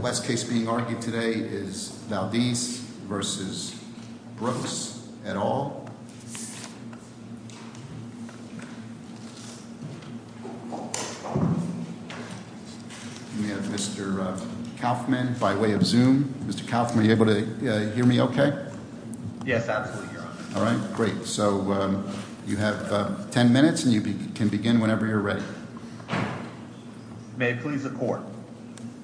Mr. Kaufman, by way of Zoom, Mr. Kaufman, are you able to hear me okay? Yes, absolutely, Your Honor. All right, great. So you have ten minutes and you can begin whenever you're ready. May it please the court.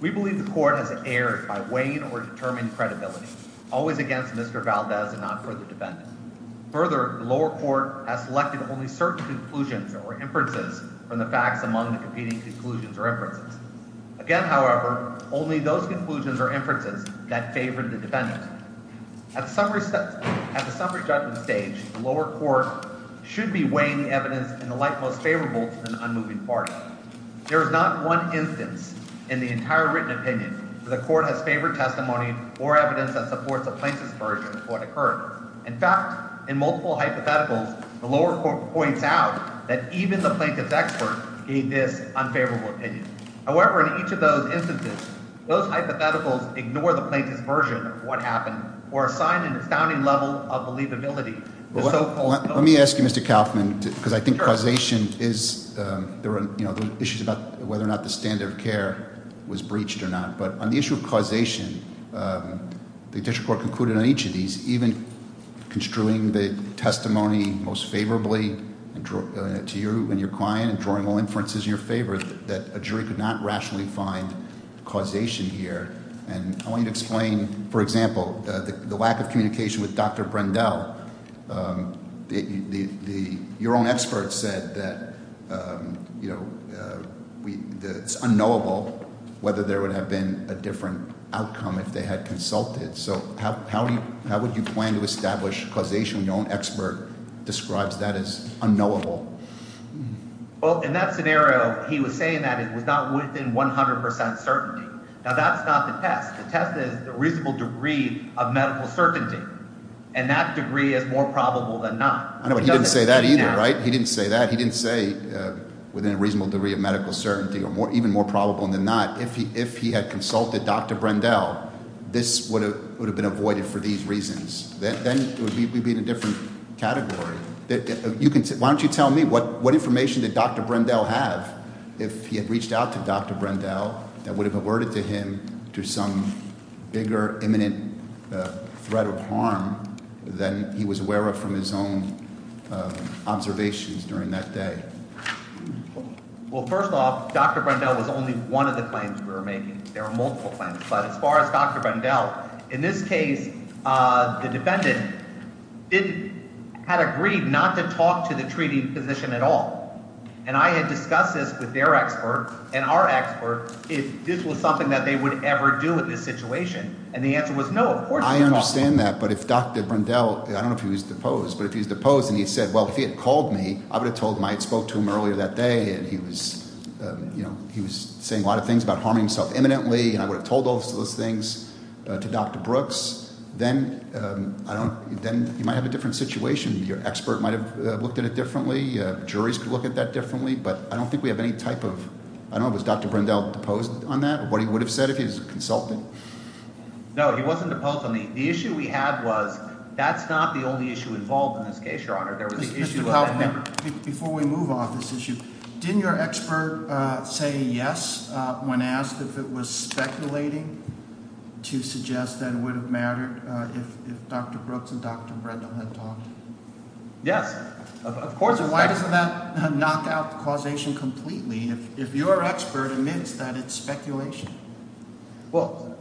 We believe the court has erred by weighing or determining credibility, always against Mr. Valdes and not for the defendant. Further, the lower court has selected only certain conclusions or inferences from the facts among the competing conclusions or inferences. Again, however, only those conclusions or inferences that favored the defendant. At the summary judgment stage, the lower court should be weighing the evidence in the light most favorable to the unmoving party. There is not one instance in the entire written opinion where the court has favored testimony or evidence that supports the plaintiff's version of what occurred. In fact, in multiple hypotheticals, the lower court points out that even the plaintiff's expert gave this unfavorable opinion. However, in each of those instances, those hypotheticals ignore the plaintiff's version of what happened or assign an astounding level of believability. Let me ask you, Mr. Kaufman, because I think causation is, there are issues about whether or not the standard of care was breached or not, but on the issue of causation, the district court concluded on each of these, even construing the testimony most favorably to you and your client and drawing all inferences in your favor, that a jury could not rationally find causation here. And I want you to explain, for example, the lack of communication with Dr. Brendel. Your own expert said that it's unknowable whether there would have been a different outcome if they had consulted. So how would you plan to establish causation when your own expert describes that as unknowable? Well, in that scenario, he was saying that it was not within 100 percent certainty. Now, that's not the test. The test is the reasonable degree of medical certainty. And that degree is more probable than not. I know, but he didn't say that either, right? He didn't say that. He didn't say within a reasonable degree of medical certainty or even more probable than not. If he had consulted Dr. Brendel, this would have been avoided for these reasons. Then we'd be in a different category. Why don't you tell me what information did Dr. Brendel have if he had reached out to Dr. Brendel that would have averted him to some bigger, imminent threat of harm than he was aware of from his own observations during that day? Well, first off, Dr. Brendel was only one of the claims we were making. There were multiple claims. But as far as Dr. Brendel, in this case, the defendant had agreed not to talk to the treating physician at all. And I had discussed this with their expert and our expert if this was something that they would ever do in this situation. And the answer was no, of course not. I understand that, but if Dr. Brendel – I don't know if he was deposed, but if he was deposed and he said, well, if he had called me, I would have told him I had spoke to him earlier that day and he was saying a lot of things about harming himself imminently and I would have told those things to Dr. Brooks, then you might have a different situation. Your expert might have looked at it differently. Juries could look at that differently. But I don't think we have any type of – I don't know. Was Dr. Brendel deposed on that or what he would have said if he was a consultant? No, he wasn't deposed. The issue we had was that's not the only issue involved in this case, Your Honor. Mr. Kaufmann, before we move off this issue, didn't your expert say yes when asked if it was speculating to suggest that it would have mattered if Dr. Brooks and Dr. Brendel had talked? Yes, of course. So why doesn't that knock out the causation completely if your expert admits that it's speculation? Well,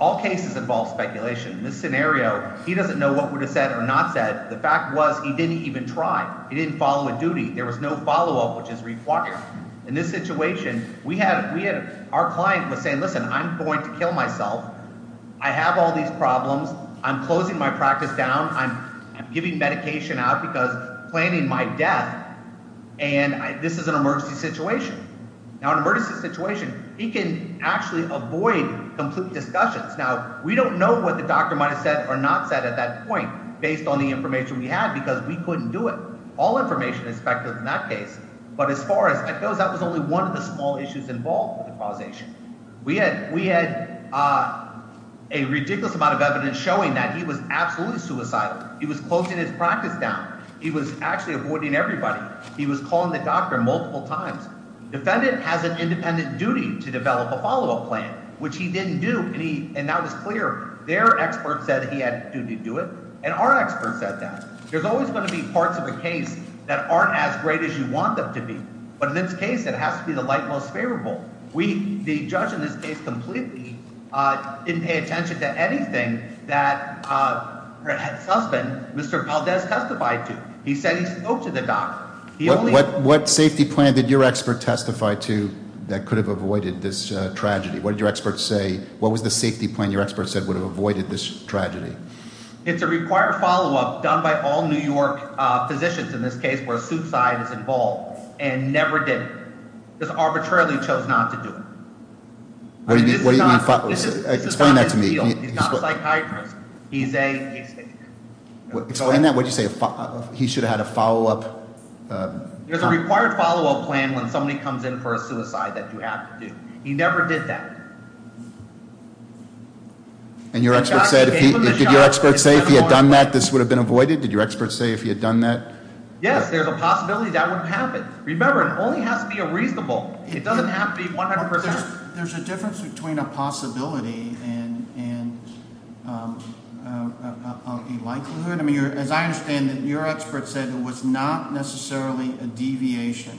all cases involve speculation. In this scenario, he doesn't know what would have said or not said. The fact was he didn't even try. He didn't follow a duty. There was no follow-up, which is required. In this situation, we had – our client was saying, listen, I'm going to kill myself. I have all these problems. I'm closing my practice down. I'm giving medication out because I'm planning my death, and this is an emergency situation. Now, in an emergency situation, he can actually avoid complete discussions. Now, we don't know what the doctor might have said or not said at that point based on the information we had because we couldn't do it. All information is speculative in that case. But as far as that goes, that was only one of the small issues involved with the causation. We had a ridiculous amount of evidence showing that he was absolutely suicidal. He was closing his practice down. He was actually avoiding everybody. He was calling the doctor multiple times. Defendant has an independent duty to develop a follow-up plan, which he didn't do, and that was clear. Their expert said he had a duty to do it, and our expert said that. There's always going to be parts of a case that aren't as great as you want them to be. But in this case, it has to be the light most favorable. We, the judge in this case, completely didn't pay attention to anything that had suspended Mr. Valdez testified to. He said he spoke to the doctor. What safety plan did your expert testify to that could have avoided this tragedy? What did your expert say? What was the safety plan your expert said would have avoided this tragedy? It's a required follow-up done by all New York physicians in this case where suicide is involved, and never did it. Just arbitrarily chose not to do it. What do you mean follow-up? Explain that to me. He's not a psychiatrist. He's a- Explain that. What did you say? He should have had a follow-up. There's a required follow-up plan when somebody comes in for a suicide that you have to do. He never did that. And your expert said, did your expert say if he had done that, this would have been avoided? Did your expert say if he had done that- Yes, there's a possibility that would have happened. Remember, it only has to be a reasonable. It doesn't have to be 100%. There's a difference between a possibility and a likelihood. As I understand it, your expert said it was not necessarily a deviation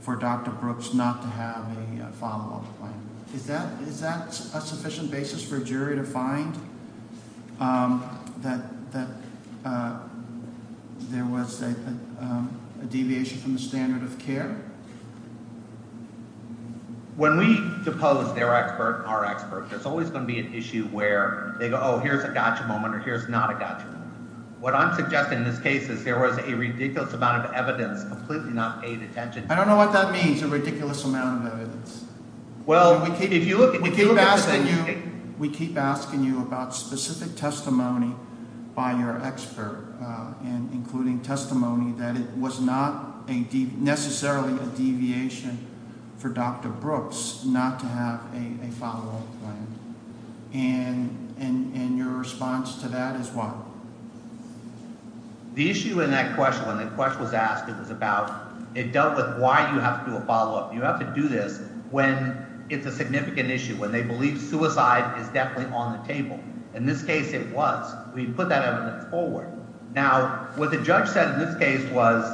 for Dr. Brooks not to have a follow-up plan. Is that a sufficient basis for a jury to find that there was a deviation from the standard of care? When we depose their expert and our expert, there's always going to be an issue where they go, oh, here's a gotcha moment or here's not a gotcha moment. What I'm suggesting in this case is there was a ridiculous amount of evidence completely not paid attention to. I don't know what that means, a ridiculous amount of evidence. We keep asking you about specific testimony by your expert, including testimony that it was not necessarily a deviation for Dr. Brooks not to have a follow-up plan. And your response to that is what? The issue in that question, when that question was asked, it dealt with why you have to do a follow-up. You have to do this when it's a significant issue, when they believe suicide is definitely on the table. In this case, it was. We put that evidence forward. Now, what the judge said in this case was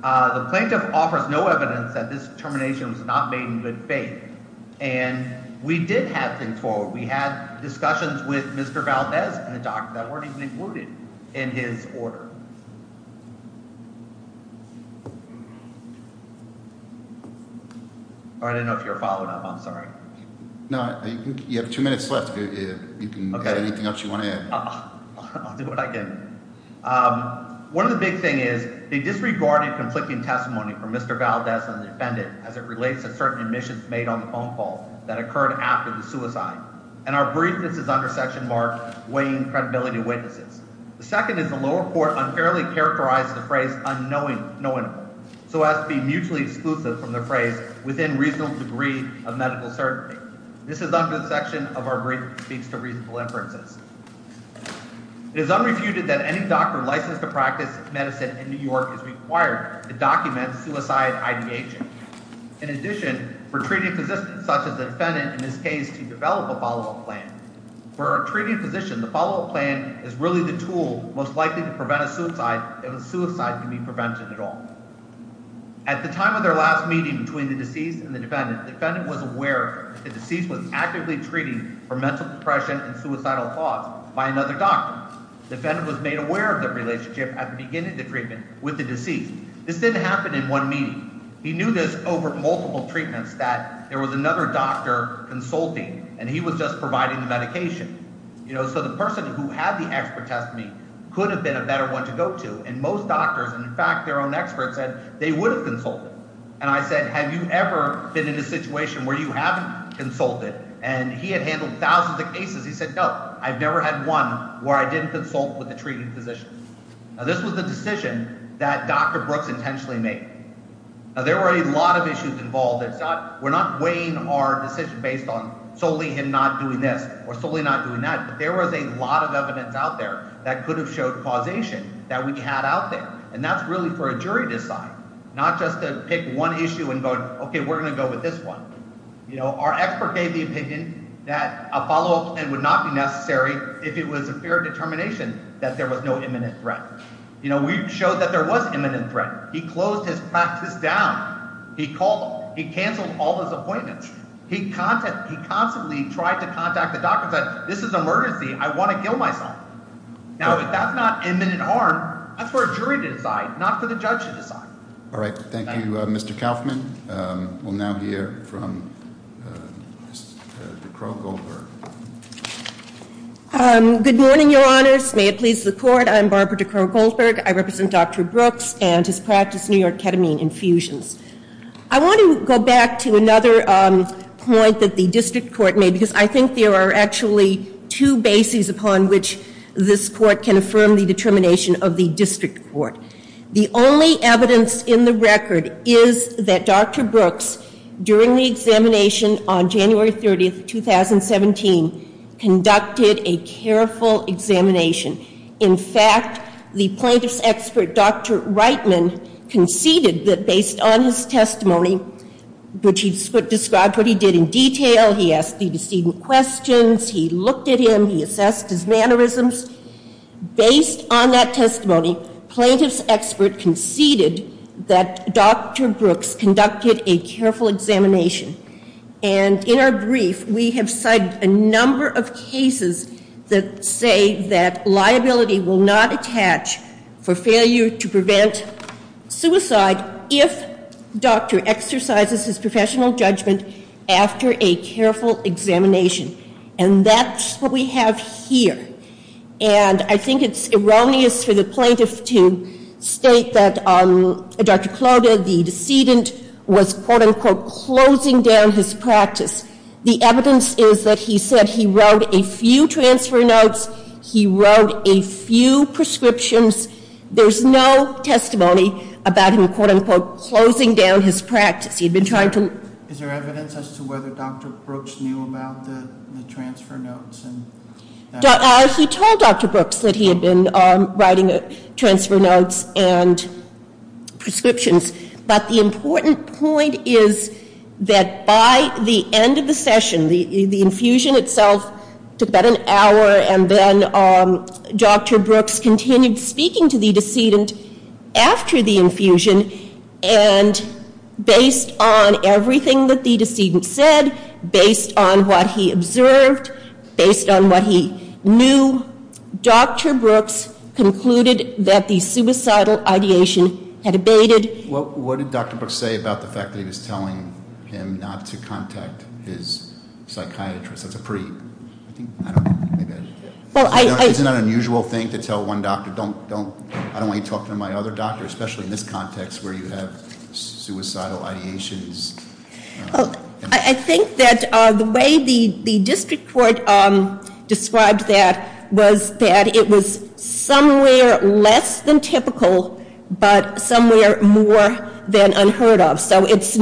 the plaintiff offers no evidence that this termination was not made in good faith. And we did have things forward. We had discussions with Mr. Valdez and the doctor that weren't even included in his order. I don't know if you're following up. I'm sorry. No, you have two minutes left. You can add anything else you want to add. I'll do what I can. One of the big thing is they disregarded conflicting testimony from Mr. Valdez and the defendant as it relates to certain admissions made on the phone call that occurred after the suicide. And our briefness is under Section Mark weighing credibility witnesses. The second is the lower court unfairly characterized the phrase unknowing, know-it-all, so as to be mutually exclusive from the phrase within reasonable degree of medical certainty. This is under the section of our brief that speaks to reasonable inferences. It is unrefuted that any doctor licensed to practice medicine in New York is required to document suicide IDH. In addition, for treating physicians such as the defendant in this case to develop a follow-up plan, for a treating physician, the follow-up plan is really the tool most likely to prevent a suicide if a suicide can be prevented at all. At the time of their last meeting between the deceased and the defendant, the defendant was aware that the deceased was actively treating for mental depression and suicidal thoughts by another doctor. The defendant was made aware of their relationship at the beginning of the treatment with the deceased. This didn't happen in one meeting. He knew this over multiple treatments that there was another doctor consulting, and he was just providing the medication. So the person who had the expert test meet could have been a better one to go to, and most doctors and, in fact, their own experts said they would have consulted. And I said, have you ever been in a situation where you haven't consulted? And he had handled thousands of cases. He said, no, I've never had one where I didn't consult with a treating physician. Now, this was the decision that Dr. Brooks intentionally made. Now, there were a lot of issues involved. We're not weighing our decision based on solely him not doing this or solely not doing that, but there was a lot of evidence out there that could have showed causation that we had out there. And that's really for a jury to decide, not just to pick one issue and go, okay, we're going to go with this one. Our expert gave the opinion that a follow-up plan would not be necessary if it was a fair determination that there was no imminent threat. We showed that there was imminent threat. He closed his practice down. He called them. He canceled all his appointments. He constantly tried to contact the doctor and said, this is an emergency. I want to kill myself. Now, if that's not imminent harm, that's for a jury to decide, not for the judge to decide. All right, thank you, Mr. Kaufman. We'll now hear from Ms. DeCrow-Goldberg. Good morning, Your Honors. May it please the Court. I'm Barbara DeCrow-Goldberg. I represent Dr. Brooks and his practice, New York Ketamine Infusions. I want to go back to another point that the district court made, because I think there are actually two bases upon which this court can affirm the determination of the district court. The only evidence in the record is that Dr. Brooks, during the examination on January 30th, 2017, conducted a careful examination. In fact, the plaintiff's expert, Dr. Reitman, conceded that based on his testimony, which he described what he did in detail, he asked the decedent questions, he looked at him, he assessed his mannerisms. Based on that testimony, plaintiff's expert conceded that Dr. Brooks conducted a careful examination. And in our brief, we have cited a number of cases that say that liability will not attach for failure to prevent suicide if doctor exercises his professional judgment after a careful examination. And that's what we have here. And I think it's erroneous for the plaintiff to state that Dr. Clota, the decedent, was, quote-unquote, closing down his practice. The evidence is that he said he wrote a few transfer notes, he wrote a few prescriptions. There's no testimony about him, quote-unquote, closing down his practice. He'd been trying to... Is there evidence as to whether Dr. Brooks knew about the transfer notes? He told Dr. Brooks that he had been writing transfer notes and prescriptions. But the important point is that by the end of the session, the infusion itself took about an hour, and then Dr. Brooks continued speaking to the decedent after the infusion, and based on everything that the decedent said, based on what he observed, based on what he knew, Dr. Brooks concluded that the suicidal ideation had abated. What did Dr. Brooks say about the fact that he was telling him not to contact his psychiatrist? That's a pretty... Isn't that an unusual thing to tell one doctor, I don't want you talking to my other doctor, especially in this context where you have suicidal ideations? I think that the way the district court described that was that it was somewhere less than typical, but somewhere more than unheard of. So it's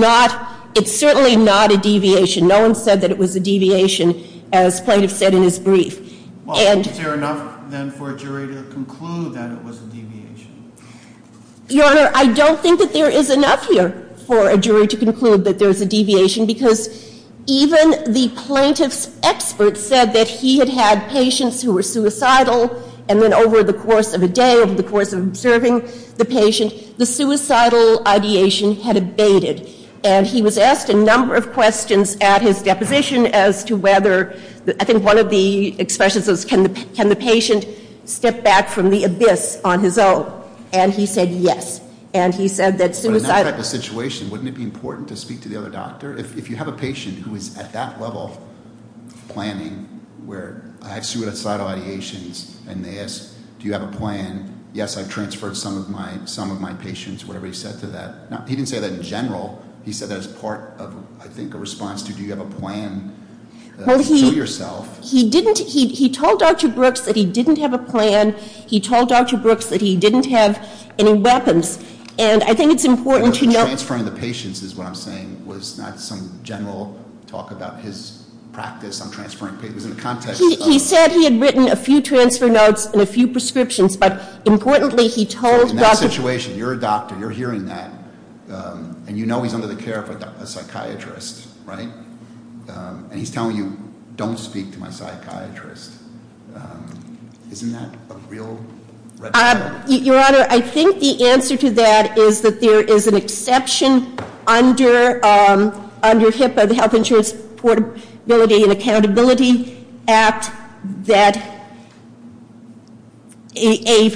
certainly not a deviation. No one said that it was a deviation, as plaintiff said in his brief. Is there enough, then, for a jury to conclude that it was a deviation? Your Honor, I don't think that there is enough here for a jury to conclude that there's a deviation, because even the plaintiff's expert said that he had had patients who were suicidal, and then over the course of a day, over the course of observing the patient, the suicidal ideation had abated. And he was asked a number of questions at his deposition as to whether, I think one of the expressions was, can the patient step back from the abyss on his own? And he said yes. And he said that suicidal- But in that type of situation, wouldn't it be important to speak to the other doctor? If you have a patient who is at that level of planning, where I have suicidal ideations, and they ask, do you have a plan? Yes, I transferred some of my patients, whatever he said to that. He didn't say that in general. He said that as part of, I think, a response to, do you have a plan to show yourself? He didn't, he told Dr. Brooks that he didn't have a plan. He told Dr. Brooks that he didn't have any weapons. And I think it's important to note- Transferring the patients is what I'm saying, was not some general talk about his practice on transferring patients in the context of- He said he had written a few transfer notes and a few prescriptions, but importantly, he told- In that situation, you're a doctor, you're hearing that, and you know he's under the care of a psychiatrist, right? And he's telling you, don't speak to my psychiatrist. Isn't that a real red flag? Your Honor, I think the answer to that is that there is an exception under HIPAA, the Health Insurance Portability and Accountability Act, that a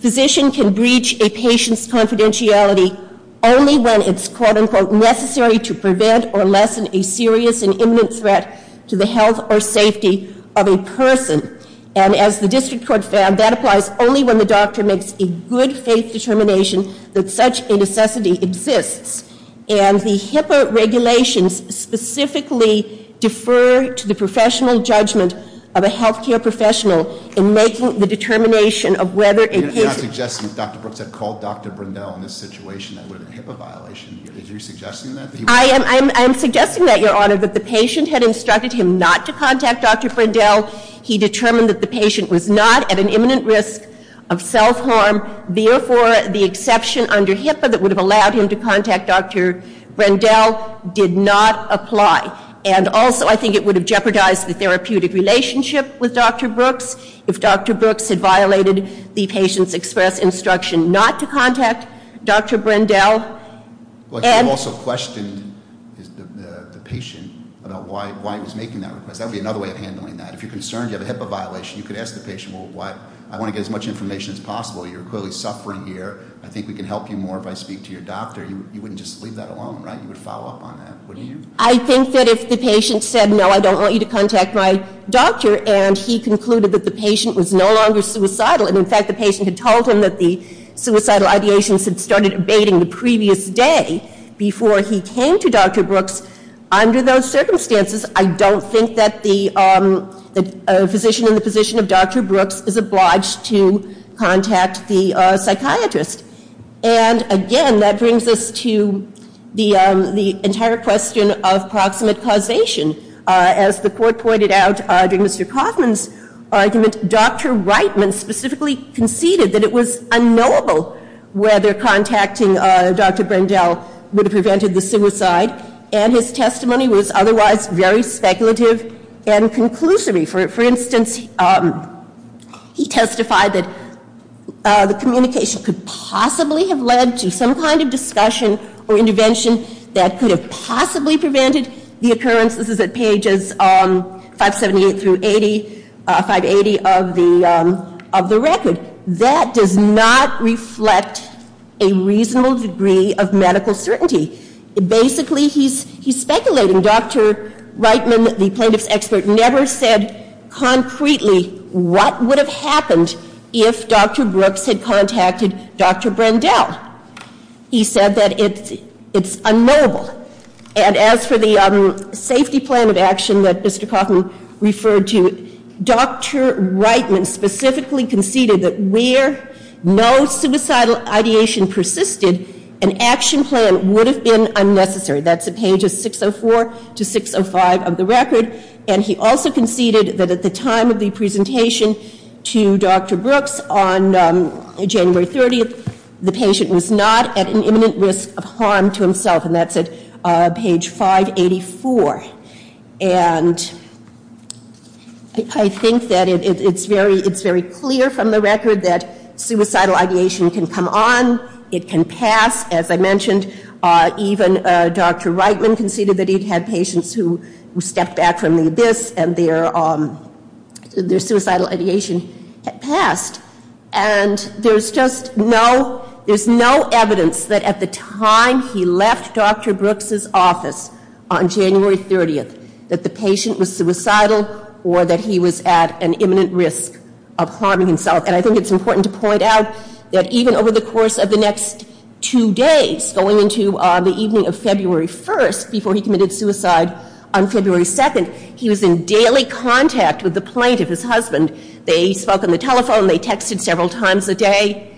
physician can breach a patient's confidentiality only when it's quote unquote necessary to prevent or lessen a serious and imminent threat to the health or safety of a person. And as the district court found, that applies only when the doctor makes a good faith determination that such a necessity exists. And the HIPAA regulations specifically defer to the professional judgment of a health care professional in making the determination of whether a patient- You're not suggesting that Dr. Brooks had called Dr. Brindel in this situation that would have been a HIPAA violation, is you suggesting that? I am suggesting that, Your Honor, that the patient had instructed him not to contact Dr. Brindel. He determined that the patient was not at an imminent risk of self harm. Therefore, the exception under HIPAA that would have allowed him to contact Dr. Brindel did not apply. And also, I think it would have jeopardized the therapeutic relationship with Dr. Brooks, if Dr. Brooks had violated the patient's express instruction not to contact Dr. Brindel. And- You also questioned the patient about why he was making that request. That would be another way of handling that. If you're concerned you have a HIPAA violation, you could ask the patient, well, why? I want to get as much information as possible. You're clearly suffering here. I think we can help you more if I speak to your doctor. You wouldn't just leave that alone, right? You would follow up on that, wouldn't you? I think that if the patient said, no, I don't want you to contact my doctor, and he concluded that the patient was no longer suicidal. And in fact, the patient had told him that the suicidal ideations had started abating the previous day before he came to Dr. Brooks. Under those circumstances, I don't think that the physician in the position of Dr. Brooks is obliged to contact the psychiatrist. And again, that brings us to the entire question of proximate causation. As the court pointed out during Mr. Kaufman's argument, Dr. Reitman specifically conceded that it was unknowable whether contacting Dr. Reitman was suicide, and his testimony was otherwise very speculative and conclusive. For instance, he testified that the communication could possibly have led to some kind of discussion or intervention that could have possibly prevented the occurrence. This is at pages 578 through 580 of the record. That does not reflect a reasonable degree of medical certainty. Basically, he's speculating. Dr. Reitman, the plaintiff's expert, never said concretely what would have happened if Dr. Brooks had contacted Dr. Brandel. He said that it's unknowable. And as for the safety plan of action that Mr. Kaufman referred to, Dr. Reitman specifically conceded that where no suicidal ideation persisted, an action plan would have been unnecessary. That's at pages 604 to 605 of the record. And he also conceded that at the time of the presentation to Dr. Brooks on January 30th, the patient was not at an imminent risk of harm to himself, and that's at page 584. And I think that it's very clear from the record that suicidal ideation can come on. It can pass. As I mentioned, even Dr. Reitman conceded that he'd had patients who stepped back from the abyss and their suicidal ideation had passed. And there's just no evidence that at the time he left Dr. Brooks's office on January 30th that the patient was suicidal or that he was at an imminent risk of harming himself. And I think it's important to point out that even over the course of the next two days, going into the evening of February 1st, before he committed suicide on February 2nd, he was in daily contact with the plaintiff, his husband. They spoke on the telephone, they texted several times a day.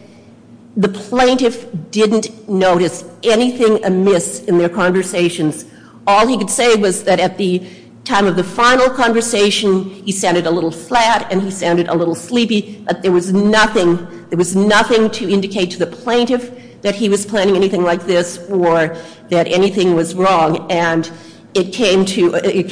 The plaintiff didn't notice anything amiss in their conversations. All he could say was that at the time of the final conversation, he sounded a little flat and he sounded a little sleepy. But there was nothing to indicate to the plaintiff that he was planning anything like this or that anything was wrong. And it came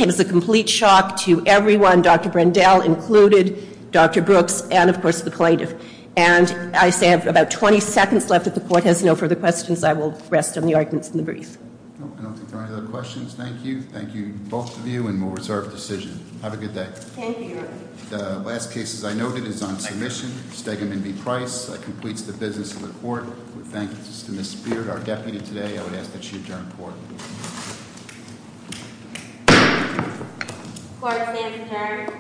as a complete shock to everyone, Dr. Brendel included, Dr. Brooks, and of course the plaintiff. And I say I have about 20 seconds left if the court has no further questions, I will rest on the arguments in the brief. No, I don't think there are any other questions. Thank you. Thank you, both of you, and we'll reserve decision. Have a good day. Thank you. The last case, as I noted, is on submission, Stegman v. Price. That completes the business of the court. We thank Justice Ms. Spear, our deputy today. I would ask that she adjourn court. Court is being prepared.